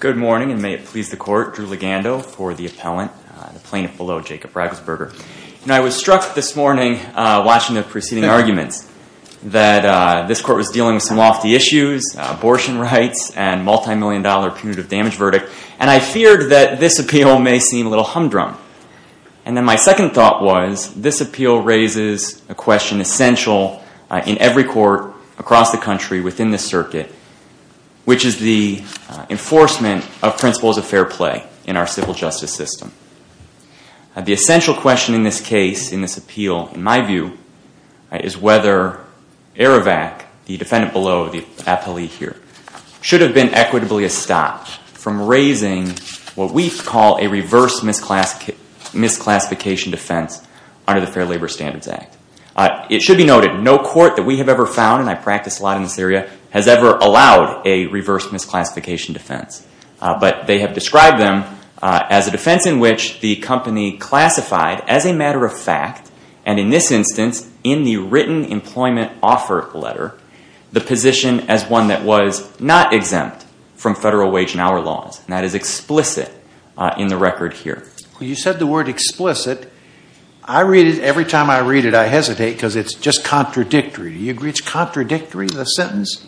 Good morning, and may it please the court, Drew Legando for the appellant, the plaintiff below, Jacob Riegelsberger. You know, I was struck this morning watching the preceding arguments that this court was dealing with some lofty issues, abortion rights, and multi-million dollar punitive damage verdict, and I feared that this appeal may seem a little humdrum. And then my second thought was, this appeal raises a question essential in every court across the country within this circuit, which is the enforcement of principles of fair play in our civil justice system. The essential question in this case, in this appeal, in my view, is whether Air Evac, the defendant below, the appellee here, should have been equitably stopped from raising what we call a reverse misclassification defense under the Fair Labor Standards Act. It should be noted, no court that we have ever found, and I practice a lot in this area, has ever allowed a reverse misclassification defense. But they have described them as a defense in which the company classified, as a matter of fact, and in this instance, in the written employment offer letter, the position as one that was not exempt from federal wage and hour laws, and that is explicit in the record here. You said the word explicit. I read it, every time I read it, I hesitate because it's just contradictory. Do you agree it's contradictory, the sentence?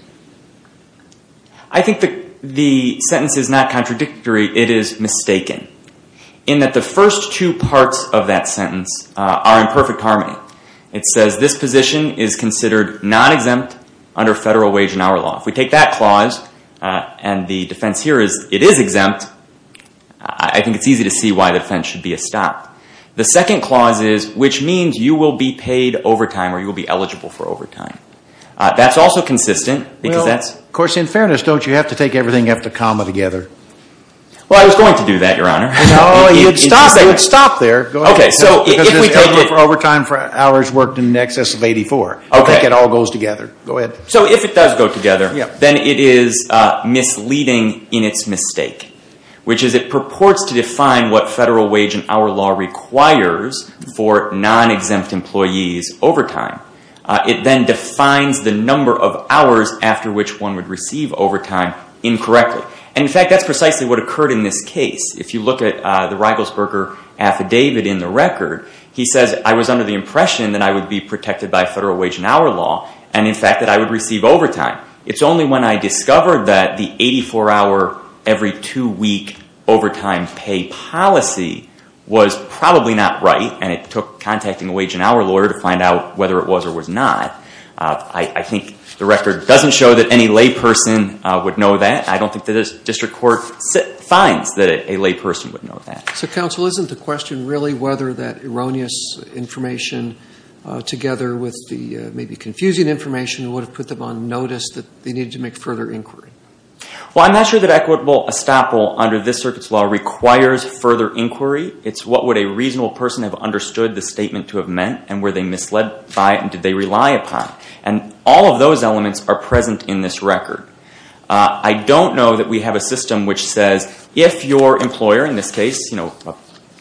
I think the sentence is not contradictory, it is mistaken, in that the first two parts of that sentence are in perfect harmony. It says this position is considered non-exempt under federal wage and hour law. If we take that clause, and the defense here is it is exempt, I think it's easy to see why the defense should be a stop. The second clause is, which means you will be paid overtime, or you will be eligible for overtime. That's also consistent. Well, of course, in fairness, don't you have to take everything after the comma together? Well, I was going to do that, your honor. No, you'd stop there. Go ahead. Because if we take it for overtime for hours worked in excess of 84, I think it all goes together. Go ahead. So if it does go together, then it is misleading in its mistake, which is it purports to define what federal wage and hour law requires for non-exempt employees' overtime. It then defines the number of hours after which one would receive overtime incorrectly. In fact, that's precisely what occurred in this case. If you look at the Rigelsberger affidavit in the record, he says, I was under the impression that I would be protected by federal wage and hour law, and in fact, that I would receive overtime. It's only when I discovered that the 84-hour every two-week overtime pay policy was probably not right, and it took contacting a wage and hour lawyer to find out whether it was or was not, I think the record doesn't show that any layperson would know that. I don't think the district court finds that a layperson would know that. So counsel, isn't the question really whether that erroneous information together with the maybe confusing information would have put them on notice that they needed to make further inquiry? Well, I'm not sure that equitable estoppel under this circuit's law requires further inquiry. It's what would a reasonable person have understood the statement to have meant, and were they misled by it, and did they rely upon it. And all of those elements are present in this record. I don't know that we have a system which says, if your employer, in this case, a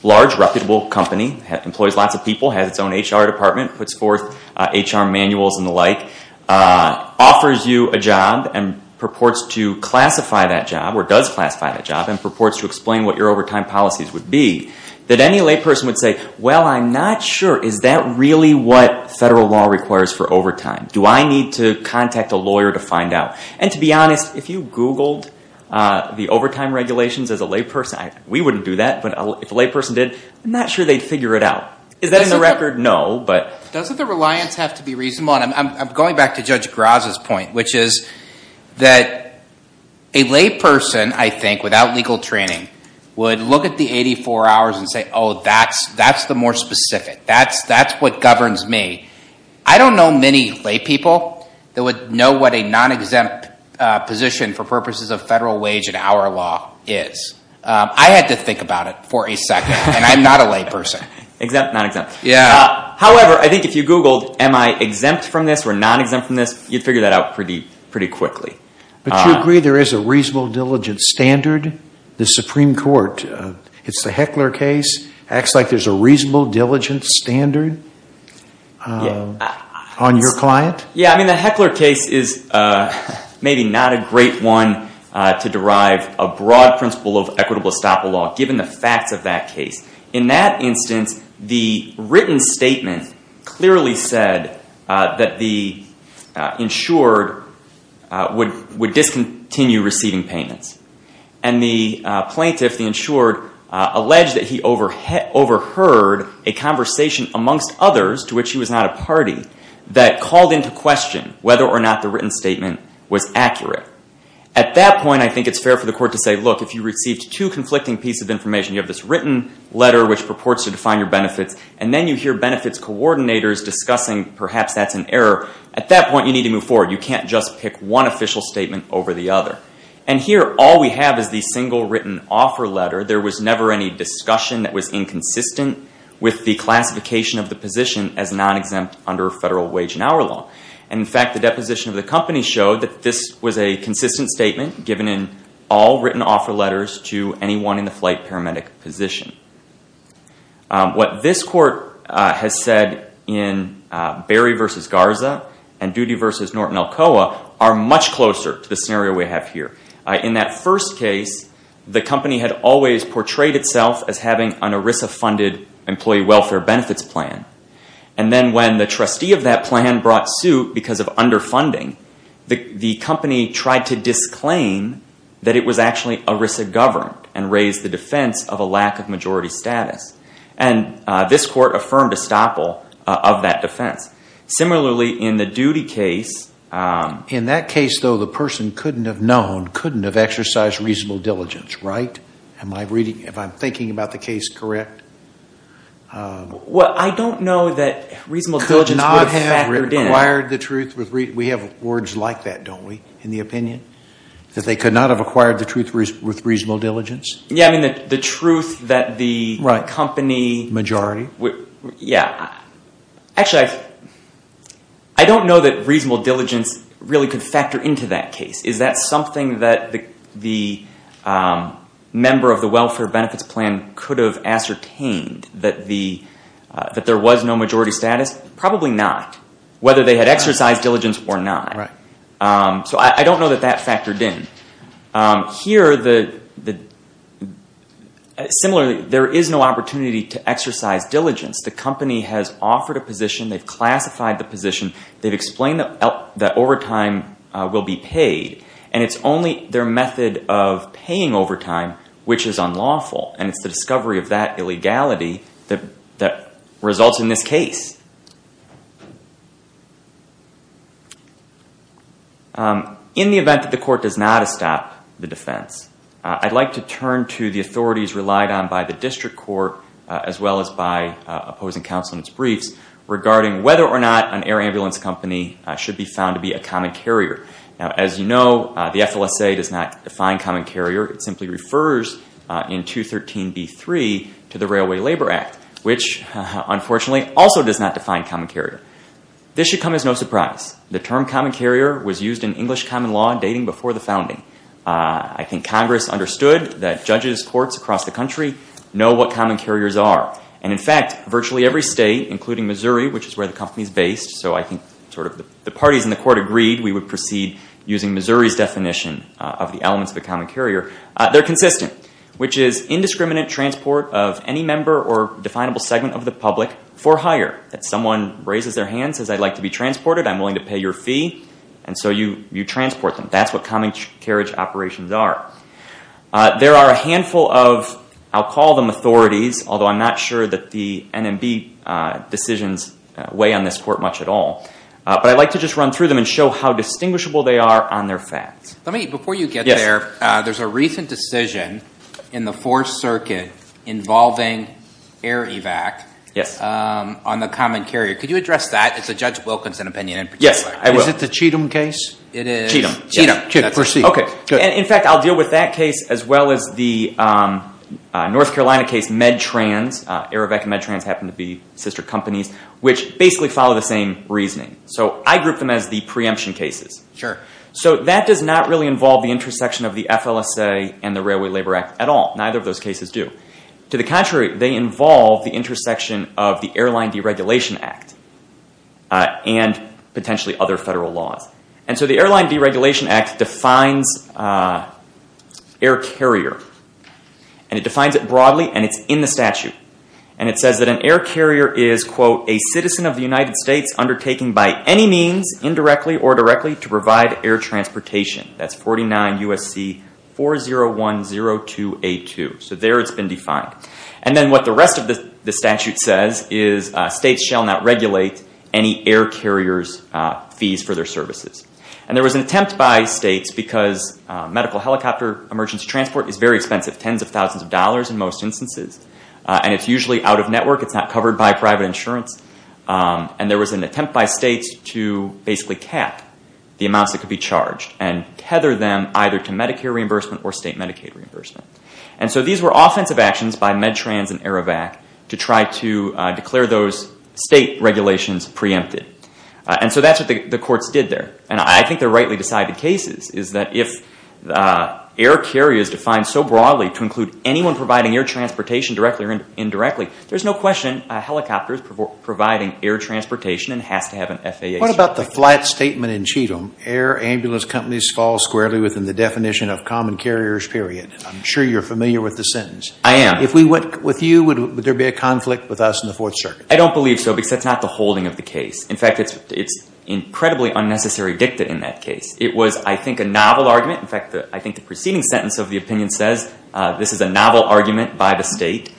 large, reputable company, employs lots of people, has its own HR department, puts forth HR manuals and the like, offers you a job and purports to classify that job or does classify that job and purports to explain what your overtime policies would be, that any layperson would say, well, I'm not sure. Is that really what federal law requires for overtime? Do I need to contact a lawyer to find out? And to be honest, if you Googled the overtime regulations as a layperson, we wouldn't do that. But if a layperson did, I'm not sure they'd figure it out. Is that in the record? No. Doesn't the reliance have to be reasonable? I'm going back to Judge Graza's point, which is that a layperson, I think, without legal training would look at the 84 hours and say, oh, that's the more specific. That's what governs me. I don't know many laypeople that would know what a non-exempt position for purposes of federal wage and hour law is. I had to think about it for a second, and I'm not a layperson. Exempt, non-exempt. Yeah. However, I think if you Googled am I exempt from this or non-exempt from this, you'd figure that out pretty quickly. But you agree there is a reasonable diligence standard? The Supreme Court, it's the Heckler case, acts like there's a reasonable diligence standard on your client? Yeah. I mean, the Heckler case is maybe not a great one to derive a broad principle of equitable estoppel law, given the facts of that case. In that instance, the written statement clearly said that the insured would discontinue receiving payments. And the plaintiff, the insured, alleged that he overheard a conversation amongst others, to which he was not a party, that called into question whether or not the written statement was accurate. At that point, I think it's fair for the court to say, look, if you received two conflicting pieces of information, you have this written letter which purports to define your benefits, and then you hear benefits coordinators discussing perhaps that's an error. At that point, you need to move forward. You can't just pick one official statement over the other. And here, all we have is the single written offer letter. There was never any discussion that was inconsistent with the classification of the position at non-exempt under federal wage and hour law. In fact, the deposition of the company showed that this was a consistent statement given in all written offer letters to anyone in the flight paramedic position. What this court has said in Berry v. Garza and Doody v. Norton-Elkoa are much closer to the scenario we have here. In that first case, the company had always portrayed itself as having an ERISA-funded Employee Welfare Benefits Plan, and then when the trustee of that plan brought suit because of underfunding, the company tried to disclaim that it was actually ERISA-governed and raised the defense of a lack of majority status. And this court affirmed estoppel of that defense. Similarly, in the Doody case... In that case, though, the person couldn't have known, couldn't have exercised reasonable diligence, right? Am I reading... If I'm thinking about the case correct... Well, I don't know that reasonable diligence would have factored in. Could not have acquired the truth with... We have words like that, don't we, in the opinion? That they could not have acquired the truth with reasonable diligence? Yeah, I mean, the truth that the company... Right. Majority? Yeah. Actually, I don't know that reasonable diligence really could factor into that case. Is that something that the member of the Welfare Benefits Plan could have ascertained, that there was no majority status? Probably not, whether they had exercised diligence or not. So I don't know that that factored in. Here, similarly, there is no opportunity to exercise diligence. The company has offered a position, they've classified the position, they've explained that overtime will be paid, and it's only their method of paying overtime which is unlawful, and it's the discovery of that illegality that results in this case. In the event that the court does not stop the defense, I'd like to turn to the authorities relied on by the district court, as well as by opposing counsel in its briefs, regarding whether or not an air ambulance company should be found to be a common carrier. As you know, the FLSA does not define common carrier, it simply refers in 213b3 to the Railway Labor Act, which unfortunately also does not define common carrier. This should come as no surprise. The term common carrier was used in English common law dating before the founding. I think Congress understood that judges, courts across the country know what common carriers are. In fact, virtually every state, including Missouri, which is where the company is based, so I think the parties in the court agreed we would proceed using Missouri's definition of the elements of a common carrier, they're consistent, which is indiscriminate transport of any member or definable segment of the public for hire. Someone raises their hand, says I'd like to be transported, I'm willing to pay your fee, and so you transport them. That's what common carriage operations are. There are a handful of, I'll call them authorities, although I'm not sure that the NMB decisions weigh on this court much at all, but I'd like to just run through them and show how distinguishable they are on their facts. Before you get there, there's a recent decision in the Fourth Circuit involving air evac on the common carrier. Could you address that? It's a Judge Wilkinson opinion in particular. Yes, I will. Is it the Cheatham case? It is. Cheatham. Cheatham. Okay. In fact, I'll deal with that case as well as the North Carolina case, MedTrans, AeroVac and MedTrans happen to be sister companies, which basically follow the same reasoning. I group them as the preemption cases. That does not really involve the intersection of the FLSA and the Railway Labor Act at all. Neither of those cases do. To the contrary, they involve the intersection of the Airline Deregulation Act and potentially other federal laws. The Airline Deregulation Act defines air carrier. It defines it broadly and it's in the statute. It says that an air carrier is, quote, a citizen of the United States undertaking by any means, indirectly or directly, to provide air transportation. That's 49 U.S.C. 4010282. There it's been defined. Then what the rest of the statute says is states shall not regulate any air carrier's services. There was an attempt by states because medical helicopter emergency transport is very expensive, tens of thousands of dollars in most instances. It's usually out of network. It's not covered by private insurance. There was an attempt by states to basically cap the amounts that could be charged and tether them either to Medicare reimbursement or state Medicaid reimbursement. These were offensive actions by MedTrans and AeroVac to try to declare those state regulations preempted. And so that's what the courts did there. And I think they're rightly decided cases is that if air carrier is defined so broadly to include anyone providing air transportation directly or indirectly, there's no question a helicopter is providing air transportation and has to have an FAA certificate. What about the flat statement in Cheatham, air ambulance companies fall squarely within the definition of common carriers, period? I'm sure you're familiar with the sentence. I am. If we went with you, would there be a conflict with us in the Fourth Circuit? I don't believe so because that's not the holding of the case. In fact, it's incredibly unnecessary dicta in that case. It was, I think, a novel argument. In fact, I think the preceding sentence of the opinion says this is a novel argument by the state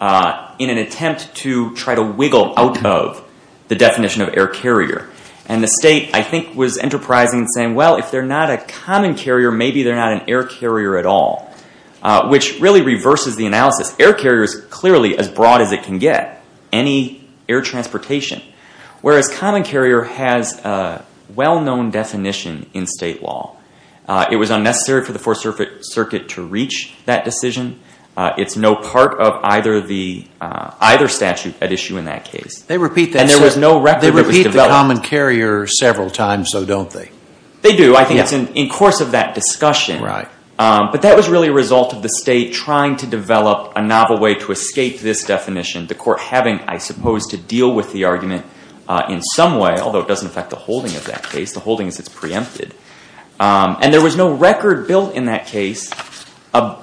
in an attempt to try to wiggle out of the definition of air carrier. And the state, I think, was enterprising and saying, well, if they're not a common carrier, maybe they're not an air carrier at all, which really reverses the analysis. Air carrier is clearly as broad as it can get, any air transportation. Whereas common carrier has a well-known definition in state law. It was unnecessary for the Fourth Circuit to reach that decision. It's no part of either statute at issue in that case. They repeat that. And there was no record that it was developed. They repeat the common carrier several times, though, don't they? They do. I think it's in course of that discussion, but that was really a result of the state trying to develop a novel way to escape this definition. The court having, I suppose, to deal with the argument in some way, although it doesn't affect the holding of that case, the holding is it's preempted. And there was no record built in that case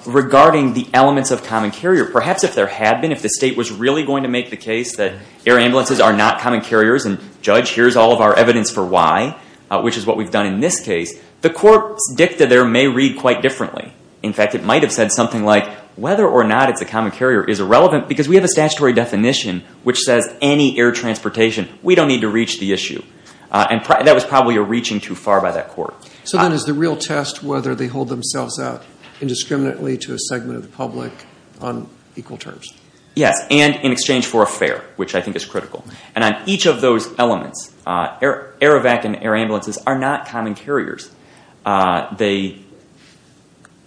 regarding the elements of common carrier. Perhaps if there had been, if the state was really going to make the case that air ambulances are not common carriers, and judge, here's all of our evidence for why, which is what we've done in this case, the court's dicta there may read quite differently. In fact, it might have said something like, whether or not it's a common carrier is irrelevant because we have a statutory definition which says any air transportation, we don't need to reach the issue. And that was probably a reaching too far by that court. So then is the real test whether they hold themselves out indiscriminately to a segment of the public on equal terms? Yes. And in exchange for a fare, which I think is critical. And on each of those elements, air evac and air ambulances are not common carriers. They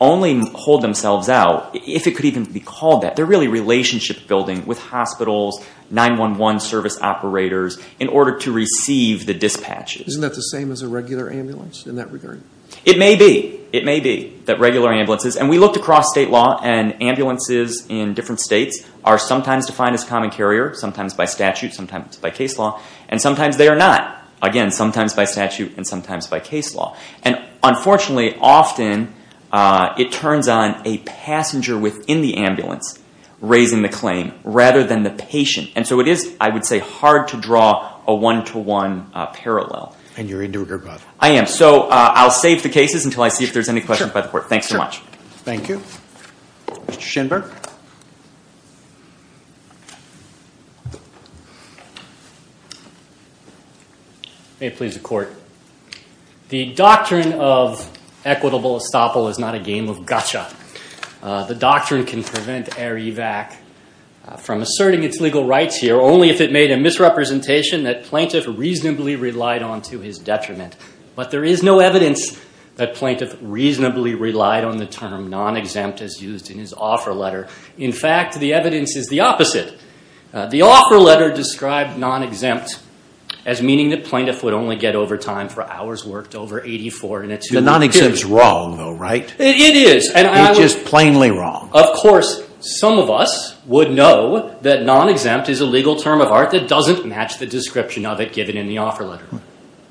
only hold themselves out if it could even be called that. They're really relationship building with hospitals, 911 service operators in order to receive the dispatches. Isn't that the same as a regular ambulance in that regard? It may be. It may be that regular ambulances, and we looked across state law and ambulances in different states are sometimes defined as common carrier, sometimes by statute, sometimes by case law. And sometimes they are not. Again, sometimes by statute and sometimes by case law. And unfortunately, often it turns on a passenger within the ambulance raising the claim rather than the patient. And so it is, I would say, hard to draw a one-to-one parallel. And you're a do-gooder, Bob. I am. So I'll save the cases until I see if there's any questions by the court. Thanks so much. Thank you. Mr. Shinberg. May it please the court. The doctrine of equitable estoppel is not a game of gotcha. The doctrine can prevent ERIVAC from asserting its legal rights here only if it made a misrepresentation that plaintiff reasonably relied on to his detriment. But there is no evidence that plaintiff reasonably relied on the term non-exempt as used in his offer letter. In fact, the evidence is the opposite. The offer letter described non-exempt as meaning that plaintiff would only get overtime for hours worked over 84 in a two-week period. The non-exempt is wrong, though, right? It is. It's just plainly wrong. Of course, some of us would know that non-exempt is a legal term of art that doesn't match the description of it given in the offer letter.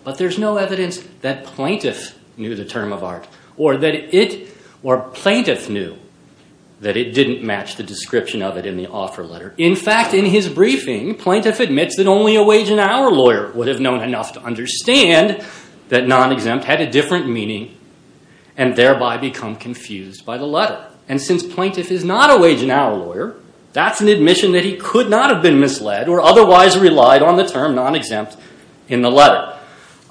But there's no evidence that plaintiff knew the term of art or that it, or plaintiff knew that it didn't match the description of it in the offer letter. In fact, in his briefing, plaintiff admits that only a wage and hour lawyer would have known enough to understand that non-exempt had a different meaning and thereby become confused by the letter. And since plaintiff is not a wage and hour lawyer, that's an admission that he could not have been misled or otherwise relied on the term non-exempt in the letter.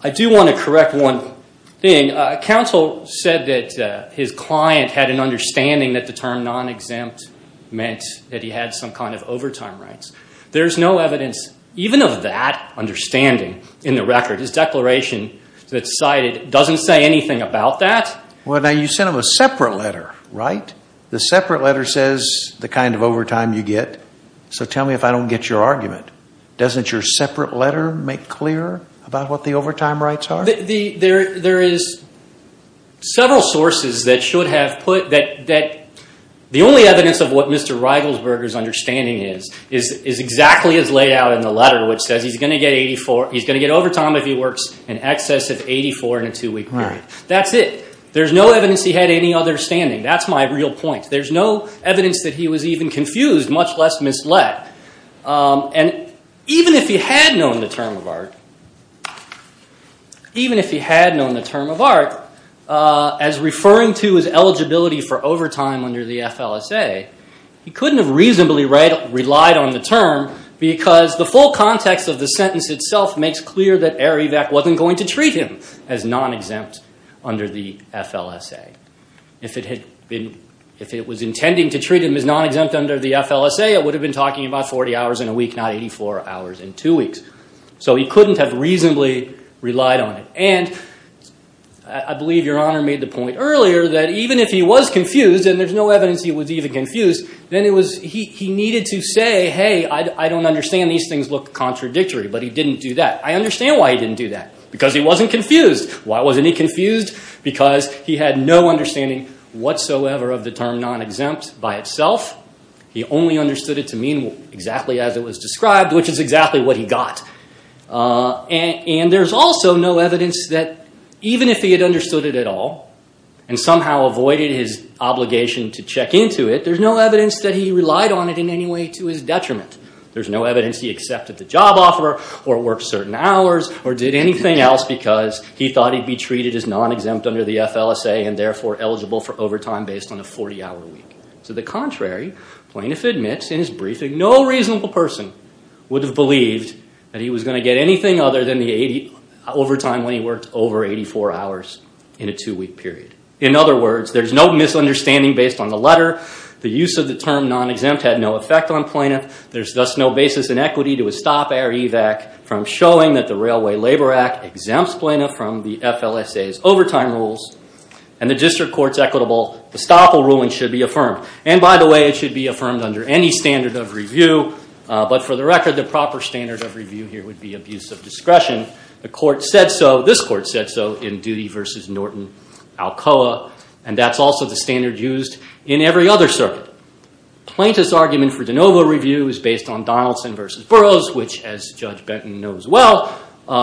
I do want to correct one thing. Counsel said that his client had an understanding that the term non-exempt meant that he had some kind of overtime rights. There's no evidence even of that understanding in the record. His declaration that's cited doesn't say anything about that. Well, now, you sent him a separate letter, right? The separate letter says the kind of overtime you get. So tell me if I don't get your argument. Doesn't your separate letter make clear about what the overtime rights are? There is several sources that should have put that the only evidence of what Mr. Reigelsberger's understanding is, is exactly as laid out in the letter, which says he's going to get overtime if he works in excess of 84 in a two-week period. That's it. There's no evidence he had any other standing. That's my real point. There's no evidence that he was even confused, much less misled. And even if he had known the term of art, even if he had known the term of art as referring to his eligibility for overtime under the FLSA, he couldn't have reasonably relied on the term because the full context of the sentence itself makes clear that Arivec wasn't going to treat him as non-exempt under the FLSA. If it was intending to treat him as non-exempt under the FLSA, it would have been talking about 40 hours in a week, not 84 hours in two weeks. So he couldn't have reasonably relied on it. And I believe Your Honor made the point earlier that even if he was confused, and there's no evidence he was even confused, then he needed to say, hey, I don't understand these things look contradictory. But he didn't do that. I understand why he didn't do that. Because he wasn't confused. Why wasn't he confused? Because he had no understanding whatsoever of the term non-exempt by itself. He only understood it to mean exactly as it was described, which is exactly what he got. And there's also no evidence that even if he had understood it at all and somehow avoided his obligation to check into it, there's no evidence that he relied on it in any way to his detriment. There's no evidence he accepted the job offer or worked certain hours or did anything else because he thought he'd be treated as non-exempt under the FLSA and therefore eligible for overtime based on a 40-hour week. To the contrary, Plaintiff admits in his briefing no reasonable person would have believed that he was going to get anything other than the overtime when he worked over 84 hours in a two-week period. In other words, there's no misunderstanding based on the letter. The use of the term non-exempt had no effect on Plaintiff. There's thus no basis in equity to a stop-error EVAC from showing that the Railway Labor Act exempts Plaintiff from the FLSA's overtime rules and the district court's equitable estoppel ruling should be affirmed. And by the way, it should be affirmed under any standard of review. But for the record, the proper standard of review here would be abuse of discretion. The court said so, this court said so, in Doody v. Norton Alcoa. And that's also the standard used in every other circuit. Plaintiff's argument for de novo review is based on Donaldson v. Burroughs, which as Judge Benton knows well,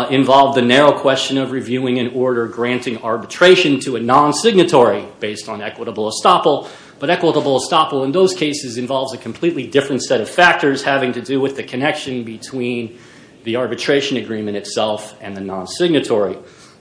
involved the narrow question of reviewing an order granting arbitration to a non-signatory based on equitable estoppel. But equitable estoppel in those cases involves a completely different set of factors having to do with the connection between the arbitration agreement itself and the non-signatory.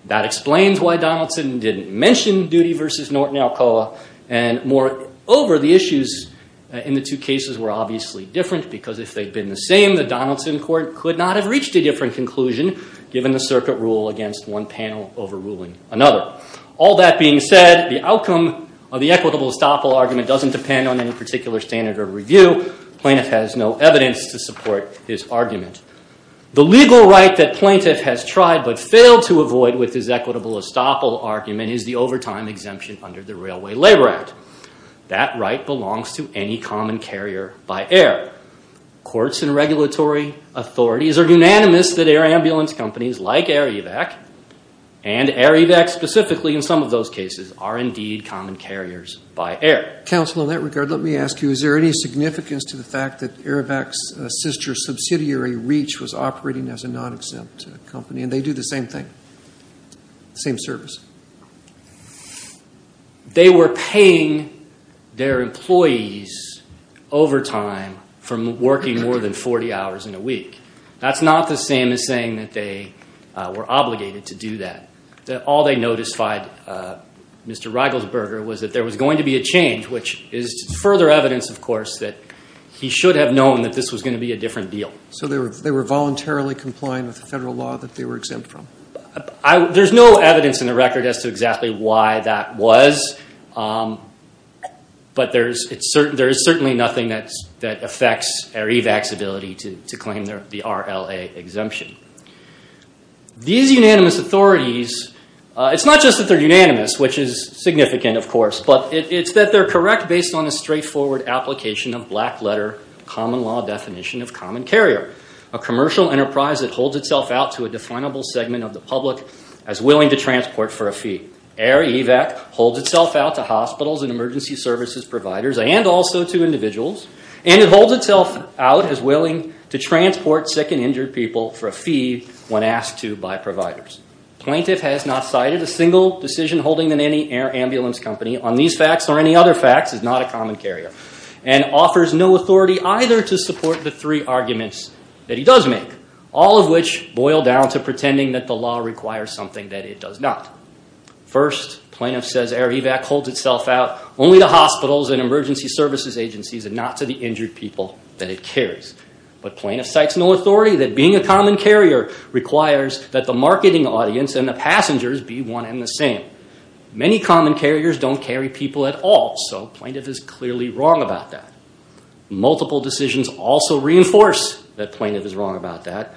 That explains why Donaldson didn't mention Doody v. Norton Alcoa. And moreover, the issues in the two cases were obviously different because if they'd been the same, the Donaldson court could not have reached a different conclusion given the circuit rule against one panel overruling another. All that being said, the outcome of the equitable estoppel argument doesn't depend on any particular standard of review. Plaintiff has no evidence to support his argument. The legal right that plaintiff has tried but failed to avoid with his equitable estoppel argument is the overtime exemption under the Railway Labor Act. That right belongs to any common carrier by air. Courts and regulatory authorities are unanimous that air ambulance companies like Air Evac and Air Evac specifically in some of those cases are indeed common carriers by air. Counsel, in that regard, let me ask you, is there any significance to the fact that Air Evac's sister subsidiary, Reach, was operating as a non-exempt company and they do the same thing, same service? They were paying their employees overtime from working more than 40 hours in a week. That's not the same as saying that they were obligated to do that. All they notified Mr. Reigelsberger was that there was going to be a change, which is further evidence, of course, that he should have known that this was going to be a different deal. So they were voluntarily complying with the federal law that they were exempt from? There's no evidence in the record as to exactly why that was, but there is certainly nothing that affects Air Evac's ability to claim the RLA exemption. These unanimous authorities, it's not just that they're unanimous, which is significant, of course, but it's that they're correct based on a straightforward application of black letter common law definition of common carrier, a commercial enterprise that holds itself out to a definable segment of the public as willing to transport for a fee. Air Evac holds itself out to hospitals and emergency services providers and also to individuals, and it holds itself out as willing to transport sick and injured people for a fee when asked to by providers. Plaintiff has not cited a single decision holding than any air ambulance company on these facts or any other facts as not a common carrier and offers no authority either to support the three arguments that he does make, all of which boil down to pretending that the law requires something that it does not. First, plaintiff says Air Evac holds itself out only to hospitals and emergency services agencies and not to the injured people that it carries. But plaintiff cites no authority that being a common carrier requires that the marketing audience and the passengers be one and the same. Many common carriers don't carry people at all, so plaintiff is clearly wrong about that. Multiple decisions also reinforce that plaintiff is wrong about that.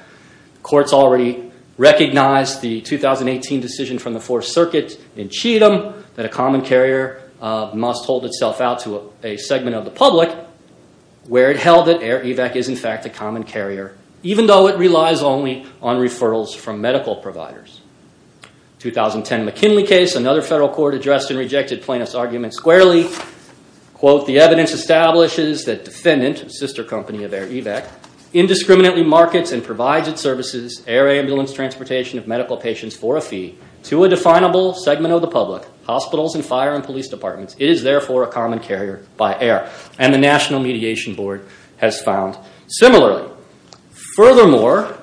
Courts already recognized the 2018 decision from the Fourth Circuit in Cheatham that a common carrier must hold itself out to a segment of the public where it held that Air Evac is in fact a common carrier, even though it relies only on referrals from medical providers. 2010 McKinley case, another federal court addressed and rejected plaintiff's argument squarely. Quote, the evidence establishes that defendant, sister company of Air Evac, indiscriminately markets and provides its services, air ambulance transportation of medical patients for a fee, to a definable segment of the public, hospitals and fire and police departments. It is therefore a common carrier by air. And the National Mediation Board has found similarly. Furthermore,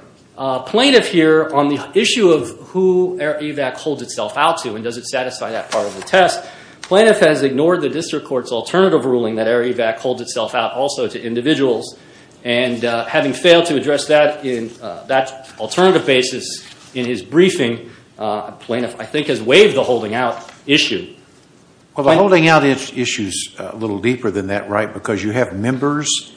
plaintiff here on the issue of who Air Evac holds itself out to and does it satisfy that part of the test, plaintiff has ignored the district court's alternative ruling that Air Evac holds itself out also to individuals, and having failed to address that in that alternative basis in his briefing, plaintiff I think has waived the holding out issue. Well, the holding out issue is a little deeper than that, right, because you have members.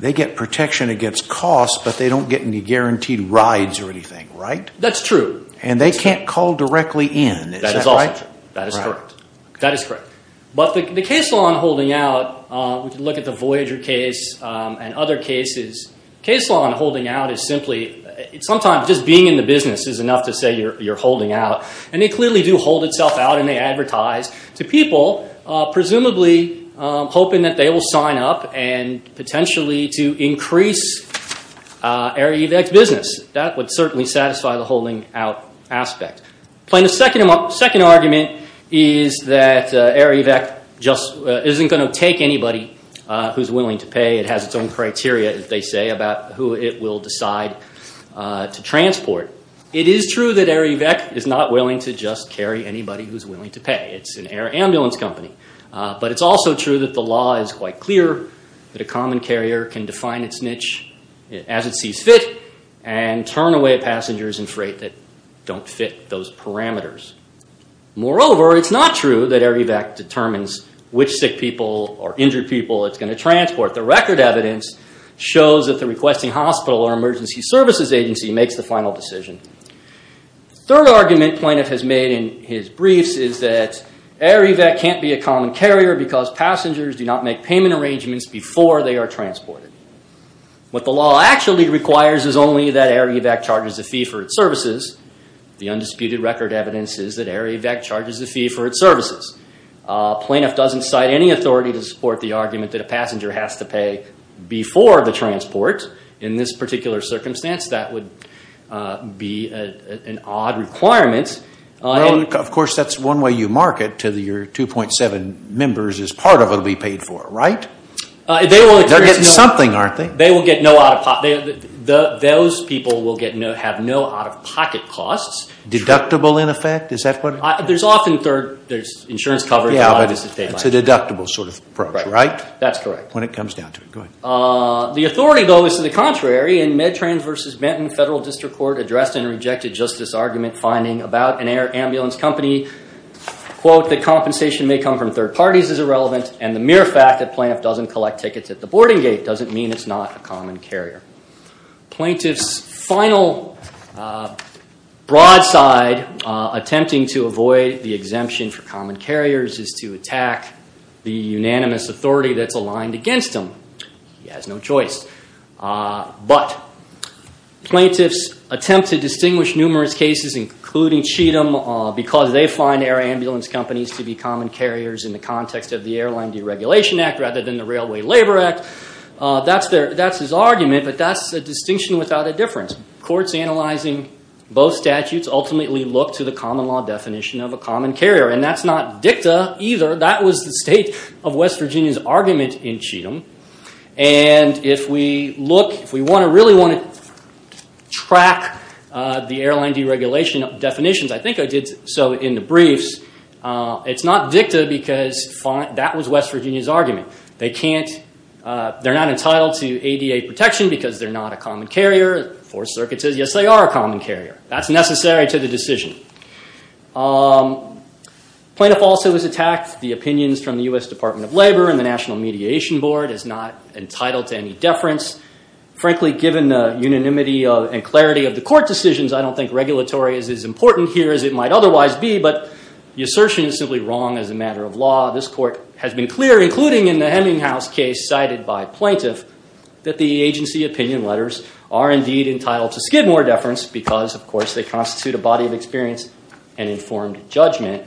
They get protection against costs, but they don't get any guaranteed rides or anything, right? That's true. And they can't call directly in. That is also true. That is correct. That is correct. But the case law on holding out, we can look at the Voyager case and other cases. Case law on holding out is simply, sometimes just being in the business is enough to say you're holding out, and they clearly do hold itself out and they advertise to people, presumably hoping that they will sign up and potentially to increase Air Evac's business. That would certainly satisfy the holding out aspect. Plaintiff's second argument is that Air Evac just isn't going to take anybody who's willing to pay. It has its own criteria, as they say, about who it will decide to transport. It is true that Air Evac is not willing to just carry anybody who's willing to pay. It's an air ambulance company. But it's also true that the law is quite clear that a common carrier can define its niche as it sees fit and turn away passengers in freight that don't fit those parameters. Moreover, it's not true that Air Evac determines which sick people or injured people it's going to transport. The record evidence shows that the requesting hospital or emergency services agency makes the final decision. Third argument plaintiff has made in his briefs is that Air Evac can't be a common carrier because passengers do not make payment arrangements before they are transported. What the law actually requires is only that Air Evac charges a fee for its services. The undisputed record evidence is that Air Evac charges a fee for its services. Plaintiff doesn't cite any authority to support the argument that a passenger has to pay before the transport. In this particular circumstance, that would be an odd requirement. Of course, that's one way you market to your 2.7 members as part of what will be paid for, right? They're getting something, aren't they? Those people will have no out-of-pocket costs. Deductible, in effect? There's often insurance coverage. It's a deductible sort of approach, right? That's correct. When it comes down to it, go ahead. The authority, though, is to the contrary. In Medtrans v. Benton, federal district court addressed in a rejected justice argument finding about an air ambulance company, quote, that compensation may come from third parties is irrelevant, and the mere fact that plaintiff doesn't collect tickets at the boarding gate doesn't mean it's not a common carrier. Plaintiff's final broadside, attempting to avoid the exemption for common carriers, is to attack the unanimous authority that's aligned against them. He has no choice. But plaintiffs attempt to distinguish numerous cases, including Cheatham, because they find air ambulance companies to be common carriers in the context of the Airline Deregulation Act rather than the Railway Labor Act. That's his argument, but that's a distinction without a difference. Courts analyzing both statutes ultimately look to the common law definition of a common carrier, and that's not dicta either. That was the state of West Virginia's argument in Cheatham. If we really want to track the airline deregulation definitions, I think I did so in the briefs, it's not dicta because that was West Virginia's argument. They're not entitled to ADA protection because they're not a common carrier. Fourth Circuit says, yes, they are a common carrier. That's necessary to the decision. Plaintiff also has attacked the opinions from the U.S. Department of Labor and the National Mediation Board as not entitled to any deference. Frankly, given the unanimity and clarity of the court decisions, I don't think regulatory is as important here as it might otherwise be, but the assertion is simply wrong as a matter of law. This court has been clear, including in the Hemminghouse case cited by plaintiff, that the agency opinion letters are indeed entitled to skid more deference because, of course, they constitute a body of experience and informed judgment.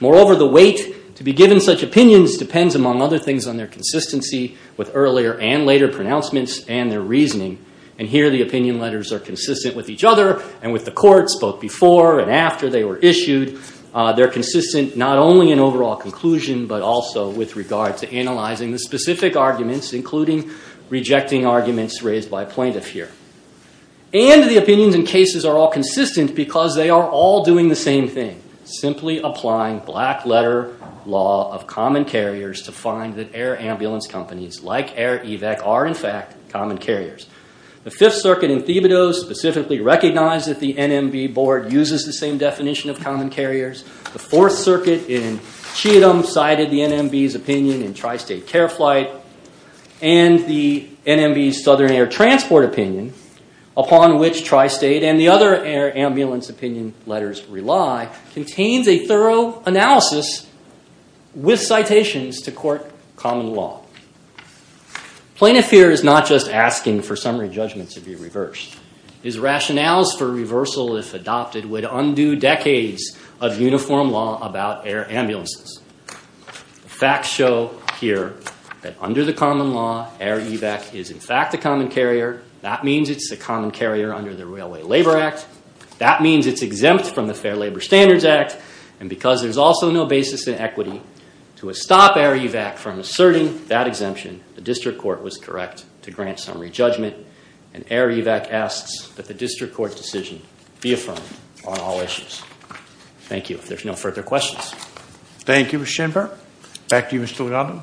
Moreover, the weight to be given such opinions depends, among other things, on their consistency with earlier and later pronouncements and their reasoning. And here the opinion letters are consistent with each other and with the courts, both before and after they were issued. They're consistent not only in overall conclusion, but also with regard to analyzing the specific arguments, including rejecting arguments raised by plaintiff here. And the opinions in cases are all consistent because they are all doing the same thing, simply applying black-letter law of common carriers to find that air ambulance companies like Air Evac are, in fact, common carriers. The Fifth Circuit in Thibodeau specifically recognized that the NMB board uses the same definition of common carriers. The Fourth Circuit in Cheatham cited the NMB's opinion in Tri-State Care Flight and the NMB's Southern Air Transport opinion, upon which Tri-State and the other air ambulance opinion letters rely, contains a thorough analysis with citations to court common law. Plaintiff here is not just asking for summary judgment to be reversed. His rationales for reversal, if adopted, would undo decades of uniform law about air ambulances. The facts show here that under the common law, Air Evac is, in fact, a common carrier. That means it's a common carrier under the Railway Labor Act. That means it's exempt from the Fair Labor Standards Act. And because there's also no basis in equity to stop Air Evac from asserting that exemption, the district court was correct to grant summary judgment. And Air Evac asks that the district court decision be affirmed on all issues. Thank you. If there's no further questions. Thank you, Mr. Schenberg. Back to you, Mr. Legato.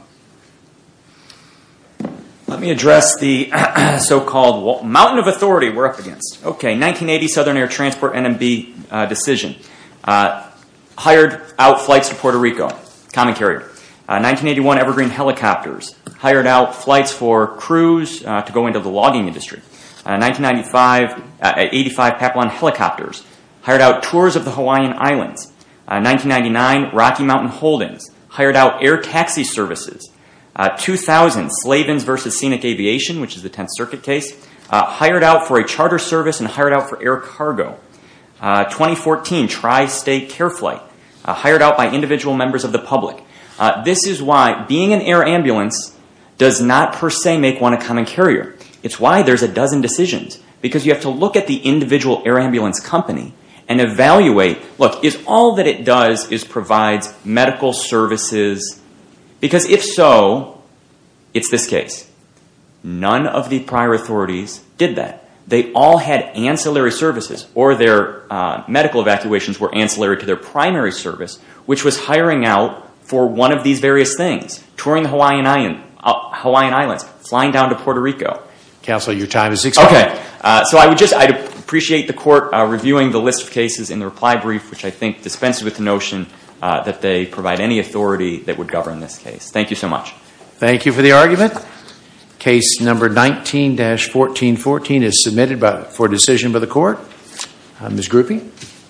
Let me address the so-called mountain of authority we're up against. 1980 Southern Air Transport NMB decision hired out flights to Puerto Rico, common carrier. 1981 Evergreen Helicopters hired out flights for crews to go into the logging industry. 1985 Papillon Helicopters hired out tours of the Hawaiian Islands. 1999 Rocky Mountain Holdings hired out air taxi services. 2000 Slavens versus Scenic Aviation, which is the Tenth Circuit case, hired out for a charter service and hired out for air cargo. 2014 Tri-State Care Flight hired out by individual members of the public. This is why being an air ambulance does not, per se, make one a common carrier. It's why there's a dozen decisions, because you have to look at the individual air ambulance company and evaluate, look, is all that it does is provides medical services? Because if so, it's this case. None of the prior authorities did that. They all had ancillary services, or their medical evacuations were ancillary to their primary service, which was hiring out for one of these various things, touring the Hawaiian Islands, flying down to Puerto Rico. Counsel, your time has expired. Okay. So I would just, I'd appreciate the court reviewing the list of cases in the reply brief, which I think dispenses with the notion that they provide any authority that would govern this case. Thank you so much. Thank you for the argument. Case number 19-1414 is submitted for decision by the court. Ms. Grupe.